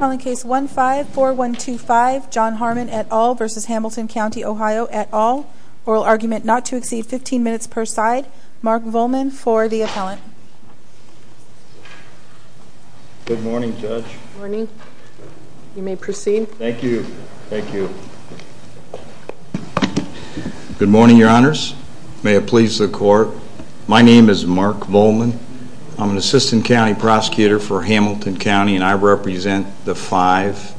Oral argument not to exceed 15 minutes per side. Mark Vollman for the appellant. Good morning Judge. Good morning. You may proceed. Thank you. Thank you. Good morning Your Honors. May it please the Court. My name is Mark Vollman. I'm an Assistant County Prosecutor for Hamilton County, Ohio. And I represent the five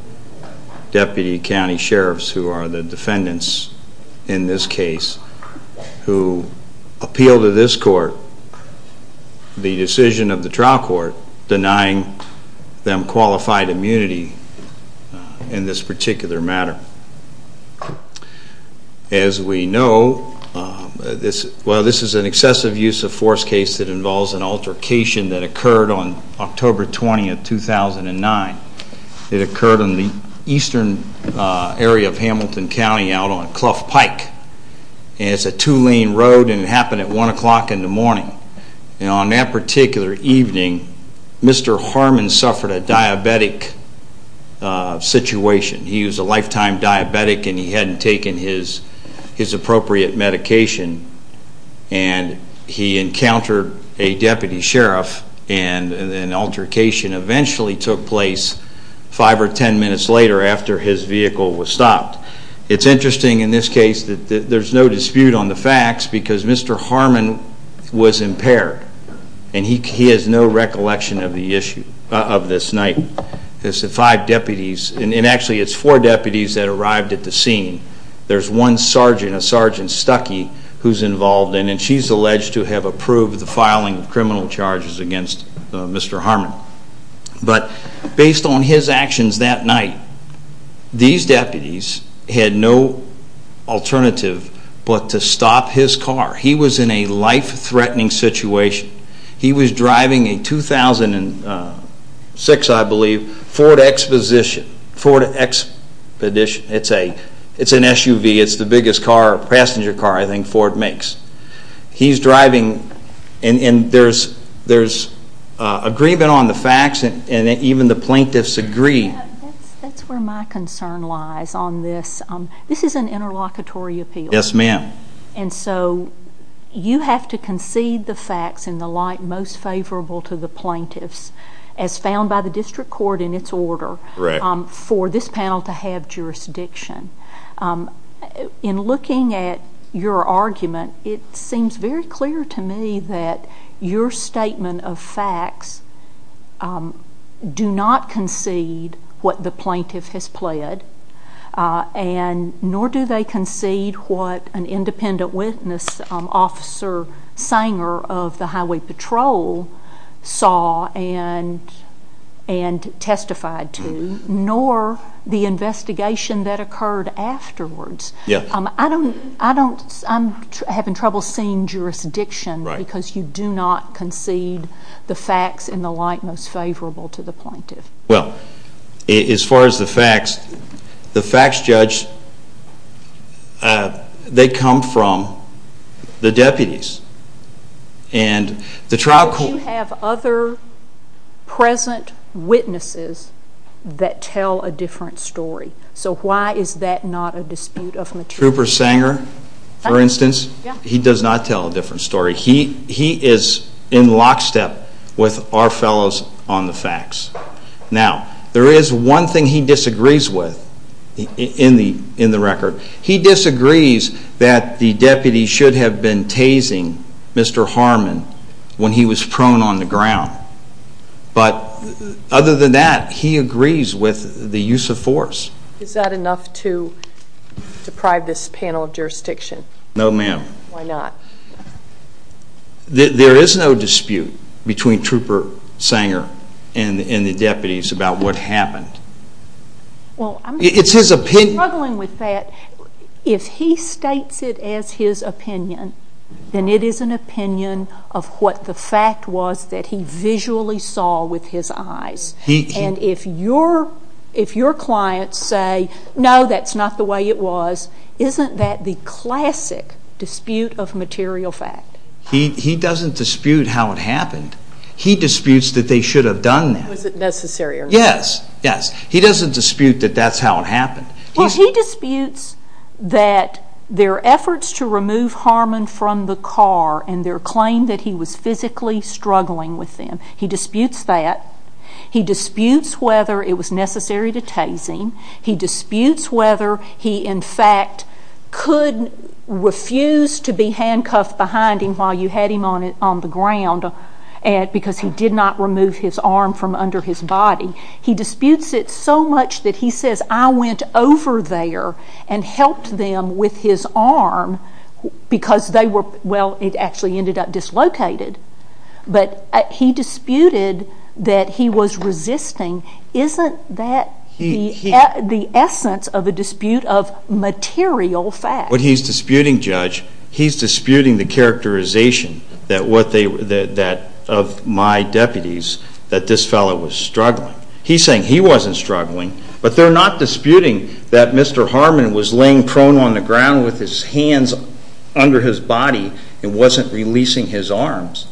Deputy County Sheriffs who are the defendants in this case who appeal to this court the decision of the trial court denying them qualified immunity in this particular matter. As we know, this is an excessive use of force case that involves an altercation that occurred on October 20, 2009. It occurred in the eastern area of Hamilton County out on Clough Pike. It's a two lane road and it happened at 1 o'clock in the morning. And on that particular evening, Mr. Harmon suffered a diabetic situation. He was a lifetime diabetic and he hadn't taken his appropriate medication. And he encountered a Deputy Sheriff and an altercation eventually took place five or ten minutes later after his vehicle was stopped. It's interesting in this case that there's no dispute on the facts because Mr. Harmon was impaired. And he has no recollection of this night. There's five deputies and actually it's four deputies that arrived at the scene. There's one sergeant, a Sergeant Stuckey, who's involved and she's alleged to have approved the filing of criminal charges against Mr. Harmon. But based on his actions that night, these deputies had no alternative but to stop his car. He was in a life-threatening situation. He was driving a 2006, I believe, Ford Expedition. Ford Expedition. It's an SUV. It's the biggest car, passenger car, I think Ford makes. He's driving and there's agreement on the facts and even the plaintiffs agree. That's where my concern lies on this. This is an interlocutory appeal. Yes, ma'am. And so you have to concede the facts in the light most favorable to the plaintiffs as found by the District Court in its order for this panel to have jurisdiction. In looking at your argument, it seems very clear to me that your statement of facts do not concede what the plaintiff has pled. Nor do they concede what an independent witness, Officer Sanger of the Highway Patrol saw and testified to. Nor the investigation that occurred afterwards. I'm having trouble seeing jurisdiction because you do not concede the facts in the light most favorable to the plaintiff. Well, as far as the facts, the facts, Judge, they come from the deputies. And the trial court... But you have other present witnesses that tell a different story. So why is that not a dispute of material? Trooper Sanger, for instance, he does not tell a different story. He is in lockstep with our fellows on the facts. Now, there is one thing he disagrees with in the record. He disagrees that the deputy should have been tasing Mr. Harmon when he was prone on the ground. But other than that, he agrees with the use of force. Is that enough to deprive this panel of jurisdiction? No, ma'am. Why not? There is no dispute between Trooper Sanger and the deputies about what happened. It's his opinion... I'm struggling with that. If he states it as his opinion, then it is an opinion of what the fact was that he visually saw with his eyes. And if your clients say, no, that's not the way it was, isn't that the classic dispute of material fact? He doesn't dispute how it happened. He disputes that they should have done that. Was it necessary or not? Yes, yes. He doesn't dispute that that's how it happened. Well, he disputes that their efforts to remove Harmon from the car and their claim that he was physically struggling with them, he disputes that. He disputes whether it was necessary to tase him. He disputes whether he, in fact, could refuse to be handcuffed behind him while you had him on the ground because he did not remove his arm from under his body. He disputes it so much that he says, I went over there and helped them with his arm because they were... well, it actually ended up dislocated. But he disputed that he was resisting. Isn't that the essence of a dispute of material fact? What he's disputing, Judge, he's disputing the characterization of my deputies that this fellow was struggling. He's saying he wasn't struggling, but they're not disputing that Mr. Harmon was laying prone on the ground with his hands under his body and wasn't releasing his arms.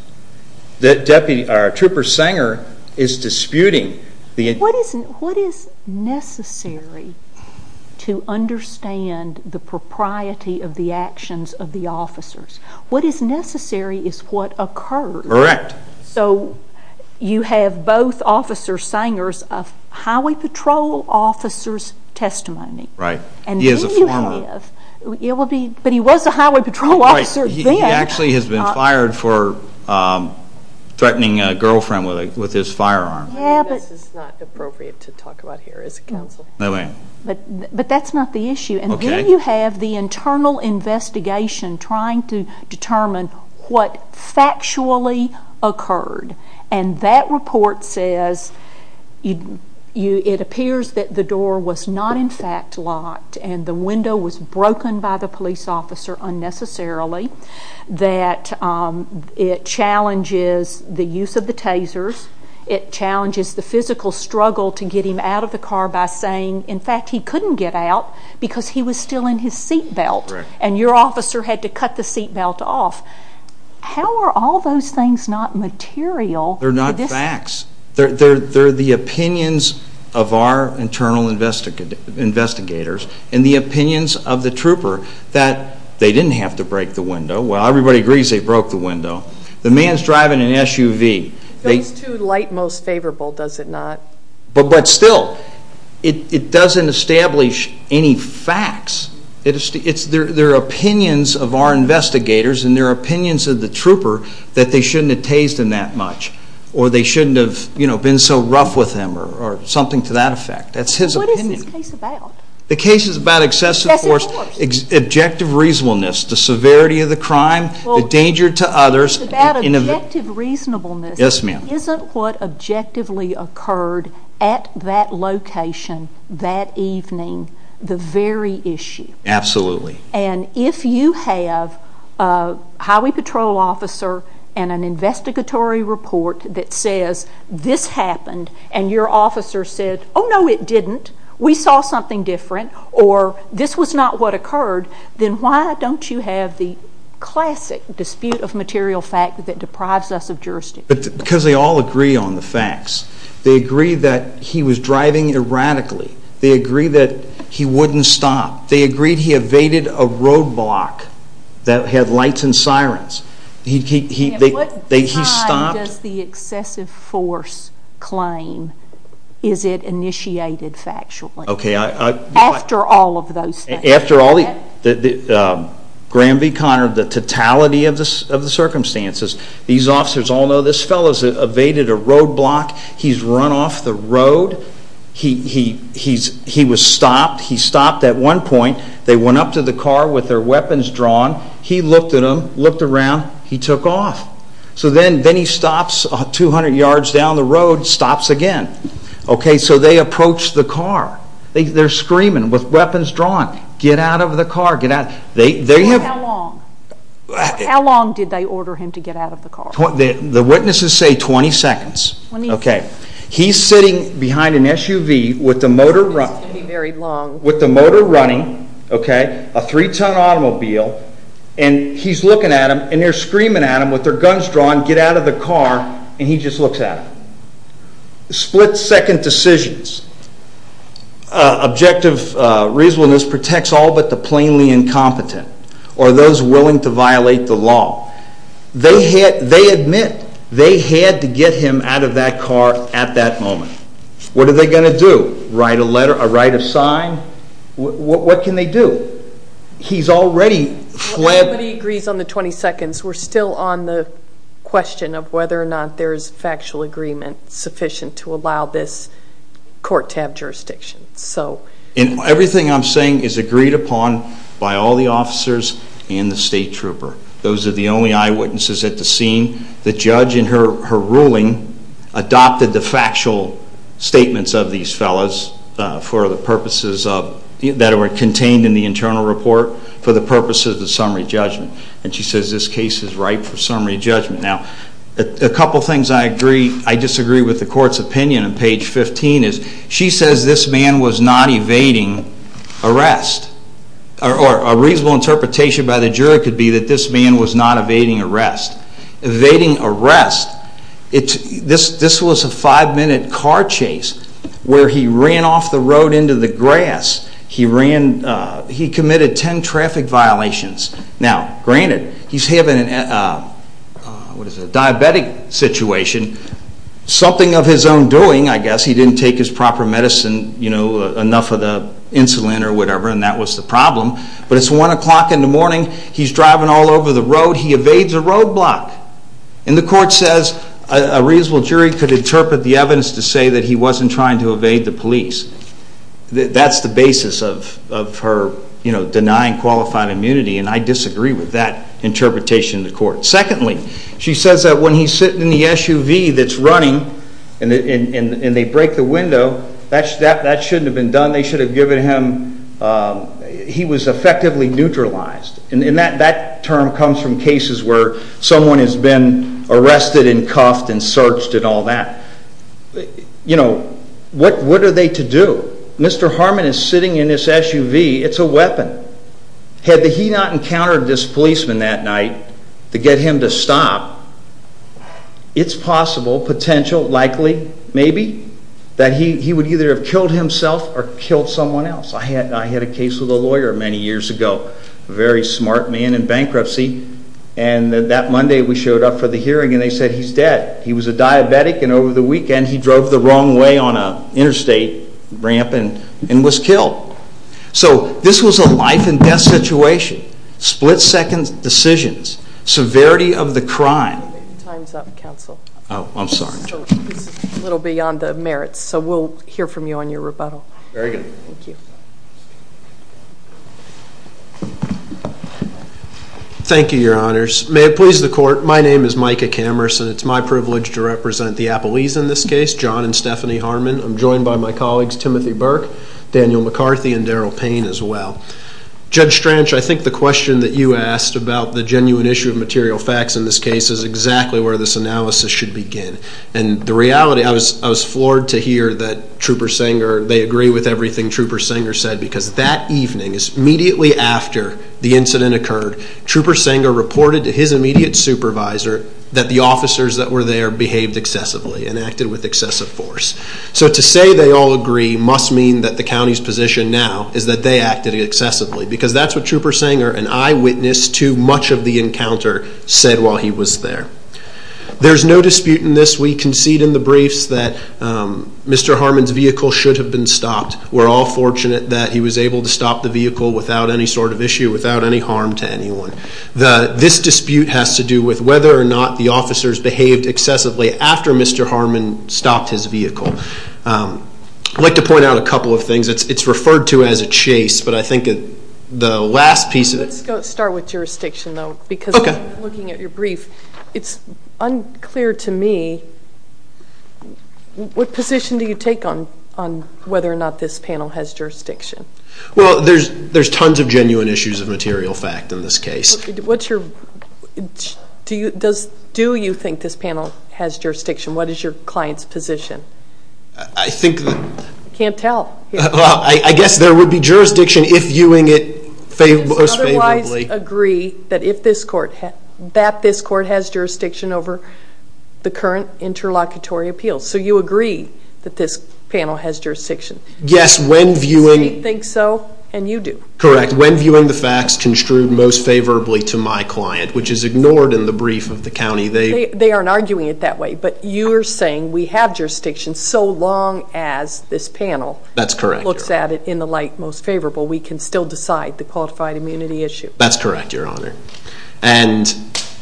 Our trooper Sanger is disputing the... What is necessary to understand the propriety of the actions of the officers? What is necessary is what occurred. Correct. So you have both officers, Sangers, of highway patrol officers' testimony. Right. He is a former. But he was a highway patrol officer then. He actually has been fired for threatening a girlfriend with his firearm. This is not appropriate to talk about here as a counselor. No, ma'am. But that's not the issue. Okay. And then you have the internal investigation trying to determine what factually occurred. And that report says it appears that the door was not in fact locked and the window was broken by the police officer unnecessarily. That it challenges the use of the tasers. It challenges the physical struggle to get him out of the car by saying, in fact, he couldn't get out because he was still in his seat belt. And your officer had to cut the seat belt off. How are all those things not material? They're not facts. They're the opinions of our internal investigators and the opinions of the trooper that they didn't have to break the window. Well, everybody agrees they broke the window. The man's driving an SUV. Goes to light most favorable, does it not? But still, it doesn't establish any facts. It's their opinions of our investigators and their opinions of the trooper that they shouldn't have tased him that much. Or they shouldn't have been so rough with him or something to that effect. That's his opinion. What is this case about? The case is about excessive force, objective reasonableness, the severity of the crime, the danger to others. It's about objective reasonableness. Yes, ma'am. Isn't what objectively occurred at that location that evening the very issue? Absolutely. And if you have a highway patrol officer and an investigatory report that says this happened and your officer said, oh, no, it didn't, we saw something different, or this was not what occurred, then why don't you have the classic dispute of material fact that deprives us of jurisdiction? Because they all agree on the facts. They agree that he was driving erratically. They agree that he wouldn't stop. They agree he evaded a roadblock that had lights and sirens. At what time does the excessive force claim is it initiated factually? After all of those things. After all the, Graham v. Connor, the totality of the circumstances. These officers all know this fellow has evaded a roadblock. He's run off the road. He was stopped. He stopped at one point. They went up to the car with their weapons drawn. He looked at them, looked around. He took off. So then he stops 200 yards down the road, stops again. Okay, so they approach the car. They're screaming with weapons drawn, get out of the car, get out. How long? How long did they order him to get out of the car? The witnesses say 20 seconds. Okay. He's sitting behind an SUV with the motor running, a three-ton automobile, and he's looking at them, and they're screaming at him with their guns drawn, get out of the car, and he just looks at them. Split-second decisions. Objective reasonableness protects all but the plainly incompetent or those willing to violate the law. They admit they had to get him out of that car at that moment. What are they going to do, write a letter, write a sign? What can they do? He's already fled. Nobody agrees on the 20 seconds. We're still on the question of whether or not there is factual agreement sufficient to allow this court to have jurisdiction. Everything I'm saying is agreed upon by all the officers and the state trooper. Those are the only eyewitnesses at the scene. The judge in her ruling adopted the factual statements of these fellas that were contained in the internal report for the purposes of summary judgment. And she says this case is ripe for summary judgment. Now, a couple things I disagree with the court's opinion on page 15 is she says this man was not evading arrest, or a reasonable interpretation by the jury could be that this man was not evading arrest. Evading arrest, this was a five-minute car chase where he ran off the road into the grass. He committed 10 traffic violations. Now, granted, he's having a diabetic situation. Something of his own doing, I guess. He didn't take his proper medicine, enough of the insulin or whatever, and that was the problem. But it's 1 o'clock in the morning. He's driving all over the road. He evades a roadblock. And the court says a reasonable jury could interpret the evidence to say that he wasn't trying to evade the police. That's the basis of her denying qualified immunity, and I disagree with that interpretation of the court. Secondly, she says that when he's sitting in the SUV that's running and they break the window, that shouldn't have been done. They should have given him he was effectively neutralized. And that term comes from cases where someone has been arrested and cuffed and searched and all that. What are they to do? Mr. Harmon is sitting in his SUV. It's a weapon. Had he not encountered this policeman that night to get him to stop, it's possible, potential, likely, maybe, that he would either have killed himself or killed someone else. I had a case with a lawyer many years ago, a very smart man in bankruptcy, and that Monday we showed up for the hearing and they said he's dead. He was a diabetic, and over the weekend he drove the wrong way on an interstate ramp and was killed. So this was a life-and-death situation, split-second decisions, severity of the crime. Time's up, counsel. Oh, I'm sorry. This is a little beyond the merits, so we'll hear from you on your rebuttal. Very good. Thank you. Thank you, Your Honors. May it please the Court, my name is Micah Camerson. It's my privilege to represent the Appalese in this case, John and Stephanie Harmon. I'm joined by my colleagues Timothy Burke, Daniel McCarthy, and Daryl Payne as well. Judge Stranch, I think the question that you asked about the genuine issue of material facts in this case is exactly where this analysis should begin. And the reality, I was floored to hear that Trooper Sanger, they agree with everything Trooper Sanger said because that evening, immediately after the incident occurred, Trooper Sanger reported to his immediate supervisor that the officers that were there behaved excessively and acted with excessive force. So to say they all agree must mean that the county's position now is that they acted excessively because that's what Trooper Sanger, an eyewitness to much of the encounter, said while he was there. There's no dispute in this. We concede in the briefs that Mr. Harmon's vehicle should have been stopped. We're all fortunate that he was able to stop the vehicle without any sort of issue, without any harm to anyone. This dispute has to do with whether or not the officers behaved excessively after Mr. Harmon stopped his vehicle. I'd like to point out a couple of things. It's referred to as a chase, but I think the last piece of it Let's start with jurisdiction, though, because looking at your brief, it's unclear to me what position do you take on whether or not this panel has jurisdiction? Well, there's tons of genuine issues of material fact in this case. Do you think this panel has jurisdiction? What is your client's position? I think that I can't tell. I guess there would be jurisdiction if viewing it most favorably. Otherwise agree that this court has jurisdiction over the current interlocutory appeals. So you agree that this panel has jurisdiction. Yes, when viewing The state thinks so, and you do. Correct. When viewing the facts construed most favorably to my client, which is ignored in the brief of the county, they They aren't arguing it that way. But you're saying we have jurisdiction so long as this panel That's correct, Your Honor. looks at it in the light most favorable. We can still decide the qualified immunity issue. That's correct, Your Honor. And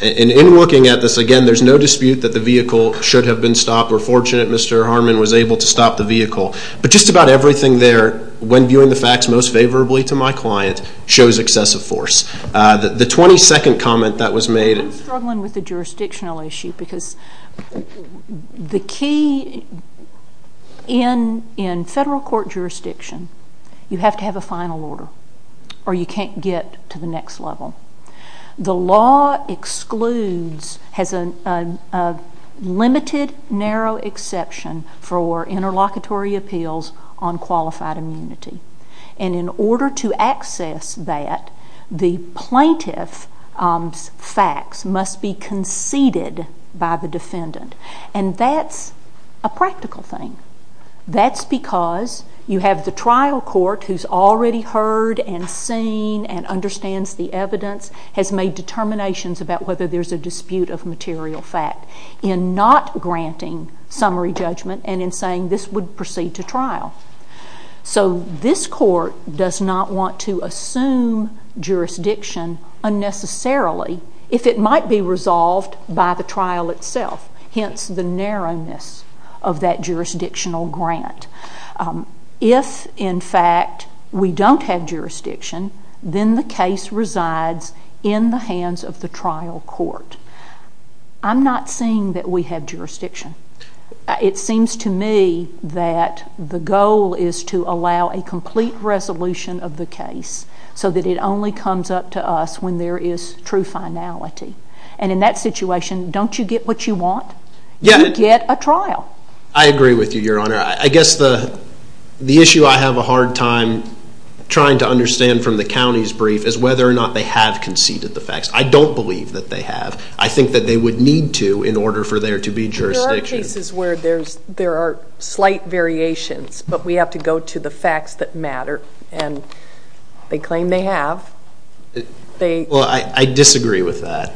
in looking at this, again, there's no dispute that the vehicle should have been stopped. We're fortunate Mr. Harmon was able to stop the vehicle. But just about everything there, when viewing the facts most favorably to my client, shows excessive force. The 22nd comment that was made I'm struggling with the jurisdictional issue because the key in federal court jurisdiction, you have to have a final order or you can't get to the next level. The law excludes, has a limited narrow exception for interlocutory appeals on qualified immunity. And in order to access that, the plaintiff's facts must be conceded by the defendant. And that's a practical thing. That's because you have the trial court who's already heard and seen and understands the evidence, has made determinations about whether there's a dispute of material fact in not granting summary judgment and in saying this would proceed to trial. So this court does not want to assume jurisdiction unnecessarily if it might be resolved by the trial itself. Hence the narrowness of that jurisdictional grant. If, in fact, we don't have jurisdiction, then the case resides in the hands of the trial court. I'm not saying that we have jurisdiction. It seems to me that the goal is to allow a complete resolution of the case so that it only comes up to us when there is true finality. And in that situation, don't you get what you want? You get a trial. I agree with you, Your Honor. I guess the issue I have a hard time trying to understand from the county's brief is whether or not they have conceded the facts. I don't believe that they have. I think that they would need to in order for there to be jurisdiction. There are cases where there are slight variations, but we have to go to the facts that matter. And they claim they have. Well, I disagree with that.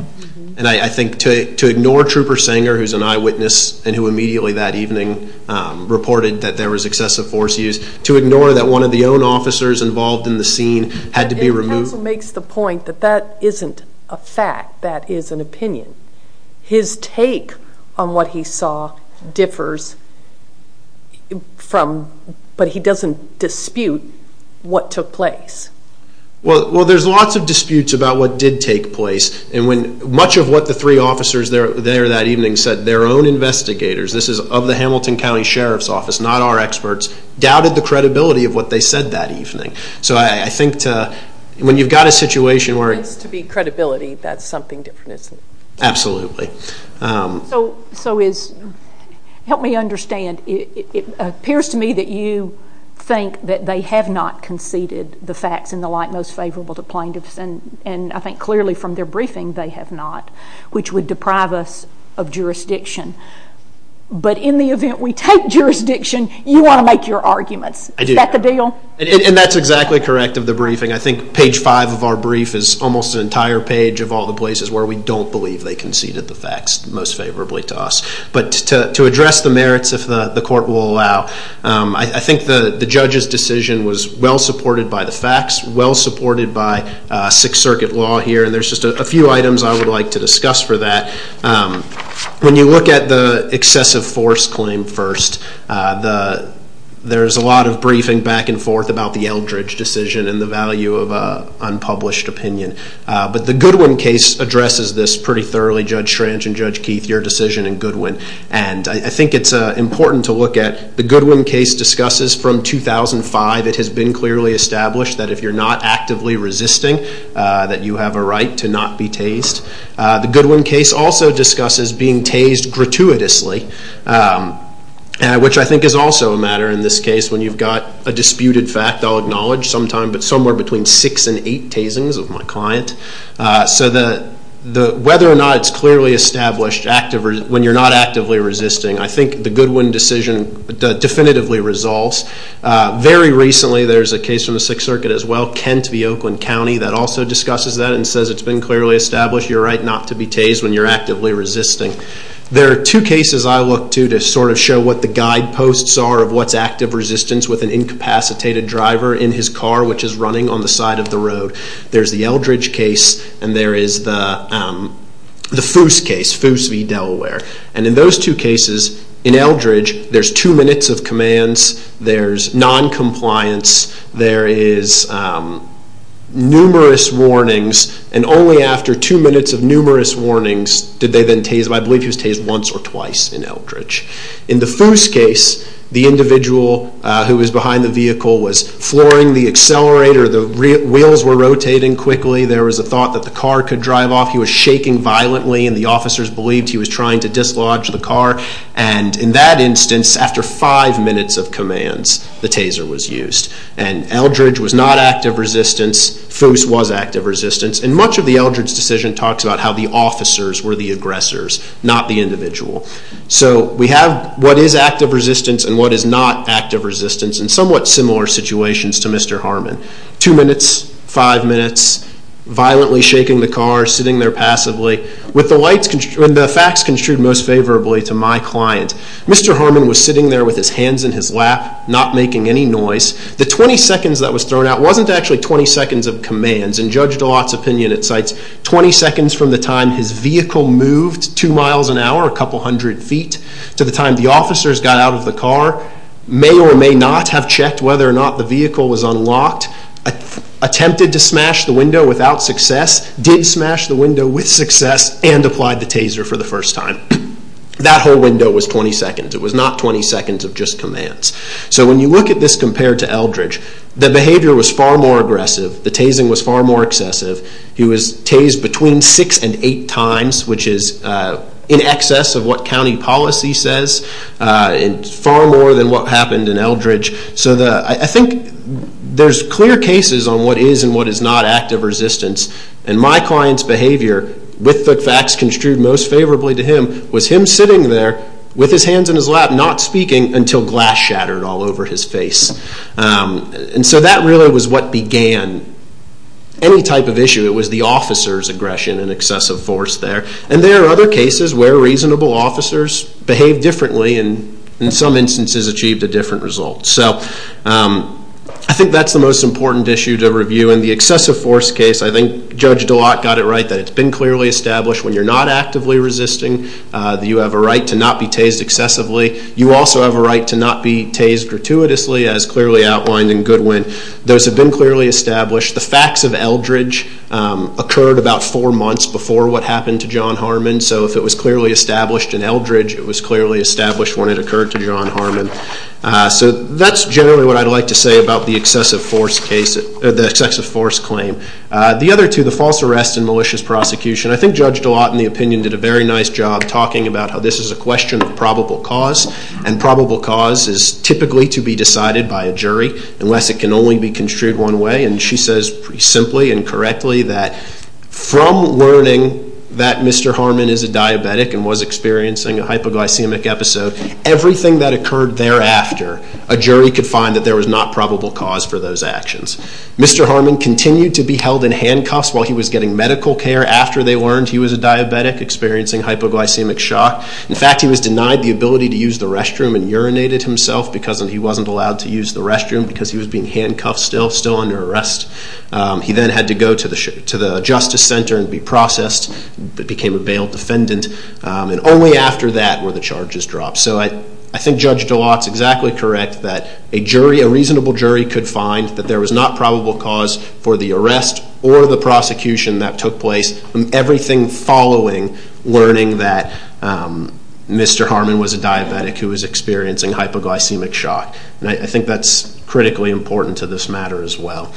And I think to ignore Trooper Sanger, who is an eyewitness and who immediately that evening reported that there was excessive force use, to ignore that one of the own officers involved in the scene had to be removed. The counsel makes the point that that isn't a fact. That is an opinion. His take on what he saw differs, but he doesn't dispute what took place. Well, there's lots of disputes about what did take place. And much of what the three officers there that evening said, their own investigators, this is of the Hamilton County Sheriff's Office, not our experts, doubted the credibility of what they said that evening. So I think when you've got a situation where it's to be credibility, that's something different, isn't it? Absolutely. So help me understand. It appears to me that you think that they have not conceded the facts in the light most favorable to plaintiffs, and I think clearly from their briefing they have not, which would deprive us of jurisdiction. But in the event we take jurisdiction, you want to make your arguments. Is that the deal? And that's exactly correct of the briefing. I think page five of our brief is almost an entire page of all the places where we don't believe they conceded the facts most favorably to us. But to address the merits, if the court will allow, I think the judge's decision was well supported by the facts, well supported by Sixth Circuit law here, and there's just a few items I would like to discuss for that. When you look at the excessive force claim first, there's a lot of briefing back and forth about the Eldridge decision and the value of unpublished opinion. But the Goodwin case addresses this pretty thoroughly. Judge Schranch and Judge Keith, your decision in Goodwin. And I think it's important to look at the Goodwin case discusses from 2005. It has been clearly established that if you're not actively resisting, that you have a right to not be tased. The Goodwin case also discusses being tased gratuitously, which I think is also a matter in this case when you've got a disputed fact. I'll acknowledge sometime, but somewhere between six and eight tasings of my client. So whether or not it's clearly established when you're not actively resisting, I think the Goodwin decision definitively resolves. Very recently there's a case from the Sixth Circuit as well, Kent v. Oakland County, that also discusses that and says it's been clearly established, you're right not to be tased when you're actively resisting. There are two cases I look to to sort of show what the guideposts are of what's active resistance with an incapacitated driver in his car, which is running on the side of the road. There's the Eldridge case and there is the Foos case, Foos v. Delaware. And in those two cases, in Eldridge, there's two minutes of commands, there's noncompliance, there is numerous warnings, and only after two minutes of numerous warnings did they then tase him. I believe he was tased once or twice in Eldridge. In the Foos case, the individual who was behind the vehicle was flooring the accelerator, the wheels were rotating quickly, there was a thought that the car could drive off, he was shaking violently and the officers believed he was trying to dislodge the car, and in that instance, after five minutes of commands, the taser was used. And Eldridge was not active resistance, Foos was active resistance, and much of the Eldridge decision talks about how the officers were the aggressors, not the individual. So we have what is active resistance and what is not active resistance in somewhat similar situations to Mr. Harmon. Two minutes, five minutes, violently shaking the car, sitting there passively, with the facts construed most favorably to my client. Mr. Harmon was sitting there with his hands in his lap, not making any noise. The 20 seconds that was thrown out wasn't actually 20 seconds of commands. In Judge DeLotte's opinion, it cites 20 seconds from the time his vehicle moved two miles an hour, a couple hundred feet, to the time the officers got out of the car, may or may not have checked whether or not the vehicle was unlocked, attempted to smash the window without success, did smash the window with success, and applied the taser for the first time. That whole window was 20 seconds. It was not 20 seconds of just commands. So when you look at this compared to Eldridge, the behavior was far more aggressive. The tasing was far more excessive. He was tased between six and eight times, which is in excess of what county policy says, far more than what happened in Eldridge. So I think there's clear cases on what is and what is not active resistance. And my client's behavior, with the facts construed most favorably to him, was him sitting there with his hands in his lap, not speaking, until glass shattered all over his face. And so that really was what began any type of issue. It was the officer's aggression and excessive force there. And there are other cases where reasonable officers behave differently and in some instances achieved a different result. So I think that's the most important issue to review. In the excessive force case, I think Judge DeLocq got it right, that it's been clearly established when you're not actively resisting that you have a right to not be tased excessively. You also have a right to not be tased gratuitously, as clearly outlined in Goodwin. Those have been clearly established. The facts of Eldridge occurred about four months before what happened to John Harmon. So if it was clearly established in Eldridge, it was clearly established when it occurred to John Harmon. So that's generally what I'd like to say about the excessive force claim. The other two, the false arrest and malicious prosecution, I think Judge DeLocq, in the opinion, did a very nice job talking about how this is a question of probable cause. And probable cause is typically to be decided by a jury, unless it can only be construed one way. And she says, pretty simply and correctly, that from learning that Mr. Harmon is a diabetic and was experiencing a hypoglycemic episode, everything that occurred thereafter, a jury could find that there was not probable cause for those actions. Mr. Harmon continued to be held in handcuffs while he was getting medical care. After they learned he was a diabetic, experiencing hypoglycemic shock. In fact, he was denied the ability to use the restroom and urinated himself because he wasn't allowed to use the restroom because he was being handcuffed still, still under arrest. He then had to go to the Justice Center and be processed, became a bail defendant. And only after that were the charges dropped. So I think Judge DeLocq is exactly correct that a jury, a reasonable jury could find that there was not probable cause for the arrest or the prosecution that took place. Everything following learning that Mr. Harmon was a diabetic who was experiencing hypoglycemic shock. And I think that's critically important to this matter as well.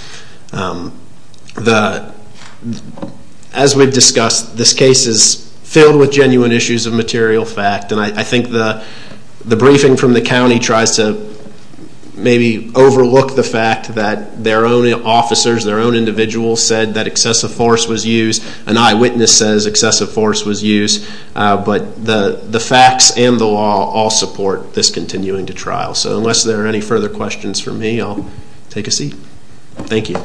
As we've discussed, this case is filled with genuine issues of material fact. And I think the briefing from the county tries to maybe overlook the fact that their own officers, their own individuals said that excessive force was used. An eyewitness says excessive force was used. But the facts and the law all support this continuing to trial. So unless there are any further questions for me, I'll take a seat. Thank you.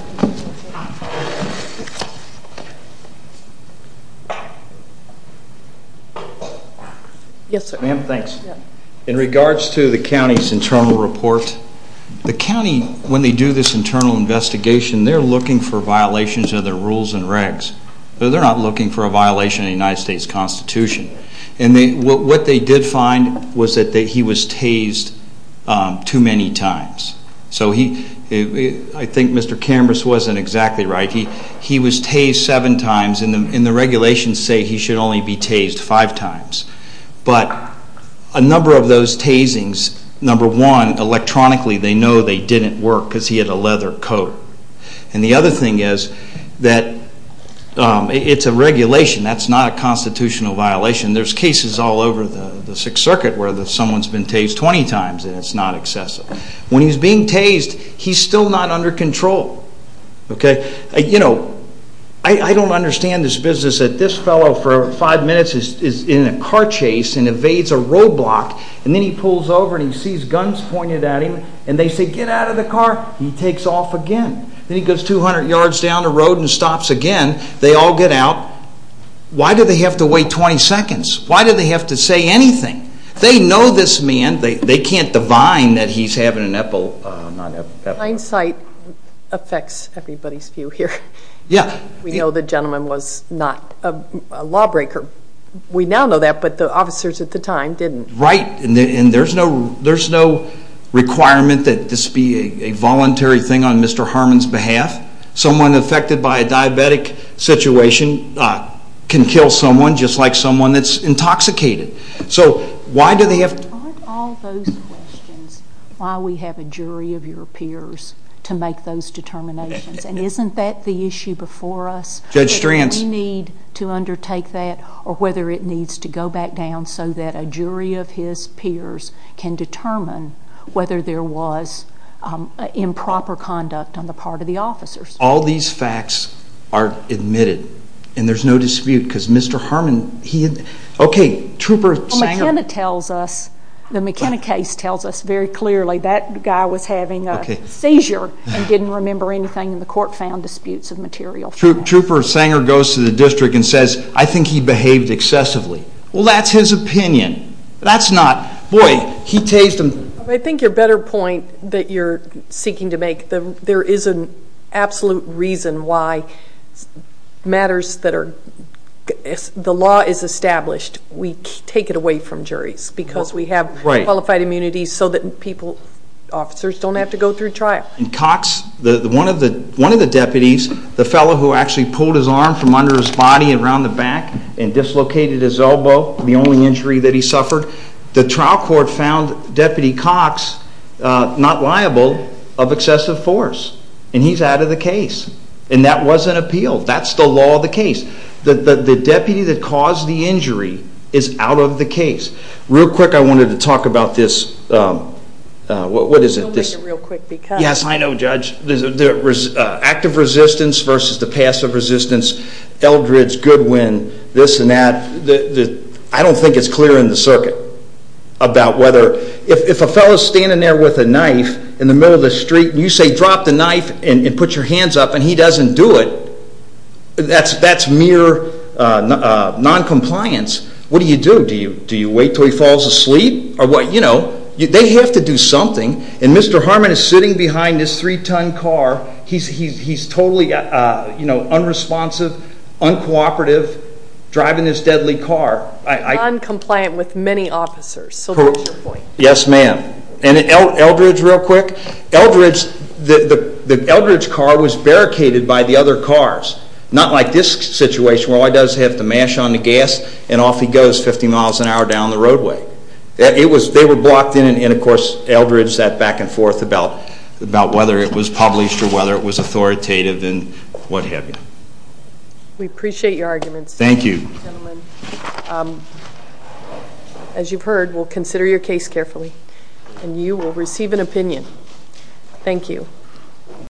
Yes, sir. Ma'am, thanks. In regards to the county's internal report, the county, when they do this internal investigation, they're looking for violations of their rules and regs. They're not looking for a violation of the United States Constitution. And what they did find was that he was tased too many times. So I think Mr. Camrus wasn't exactly right. He was tased seven times. And the regulations say he should only be tased five times. But a number of those tasings, number one, electronically, they know they didn't work because he had a leather coat. And the other thing is that it's a regulation. That's not a constitutional violation. There's cases all over the Sixth Circuit where someone's been tased 20 times and it's not excessive. When he's being tased, he's still not under control. You know, I don't understand this business that this fellow for five minutes is in a car chase and evades a roadblock, and then he pulls over and he sees guns pointed at him, and they say, get out of the car. He takes off again. Then he goes 200 yards down the road and stops again. They all get out. Why do they have to wait 20 seconds? Why do they have to say anything? They know this man. They can't divine that he's having an epilepsy. Hindsight affects everybody's view here. Yeah. We know the gentleman was not a lawbreaker. We now know that, but the officers at the time didn't. Right. And there's no requirement that this be a voluntary thing on Mr. Harmon's behalf. Someone affected by a diabetic situation can kill someone just like someone that's intoxicated. So why do they have to? Aren't all those questions why we have a jury of your peers to make those determinations? And isn't that the issue before us? Judge Stranz. Do we need to undertake that or whether it needs to go back down so that a jury of his peers can determine whether there was improper conduct on the part of the officers? All these facts are admitted, and there's no dispute because Mr. Harmon, he had, okay, Trooper Sanger. McKenna tells us, the McKenna case tells us very clearly that guy was having a seizure and didn't remember anything, and the court found disputes of material. Trooper Sanger goes to the district and says, I think he behaved excessively. Well, that's his opinion. That's not, boy, he tased them. I think your better point that you're seeking to make, there is an absolute reason why matters that are, if the law is established, we take it away from juries because we have qualified immunity so that people, officers, don't have to go through trial. Cox, one of the deputies, the fellow who actually pulled his arm from under his body and around the back and dislocated his elbow, the only injury that he suffered, the trial court found Deputy Cox not liable of excessive force. And he's out of the case. And that was an appeal. That's the law of the case. The deputy that caused the injury is out of the case. Real quick, I wanted to talk about this, what is it? We'll make it real quick. Yes, I know, Judge. Active resistance versus the passive resistance, Eldridge, Goodwin, this and that. I don't think it's clear in the circuit about whether, if a fellow is standing there with a knife in the middle of the street, and you say drop the knife and put your hands up, and he doesn't do it, that's mere noncompliance. What do you do? Do you wait until he falls asleep? They have to do something. And Mr. Harmon is sitting behind this three-ton car. He's totally unresponsive, uncooperative, driving this deadly car. Noncompliant with many officers, so that's your point. Yes, ma'am. And Eldridge, real quick, Eldridge's car was barricaded by the other cars, not like this situation where all he does is have to mash on the gas and off he goes 50 miles an hour down the roadway. They were blocked in, and, of course, Eldridge sat back and forth about whether it was published or whether it was authoritative and what have you. We appreciate your arguments. Thank you. Gentlemen, as you've heard, we'll consider your case carefully, and you will receive an opinion. Thank you.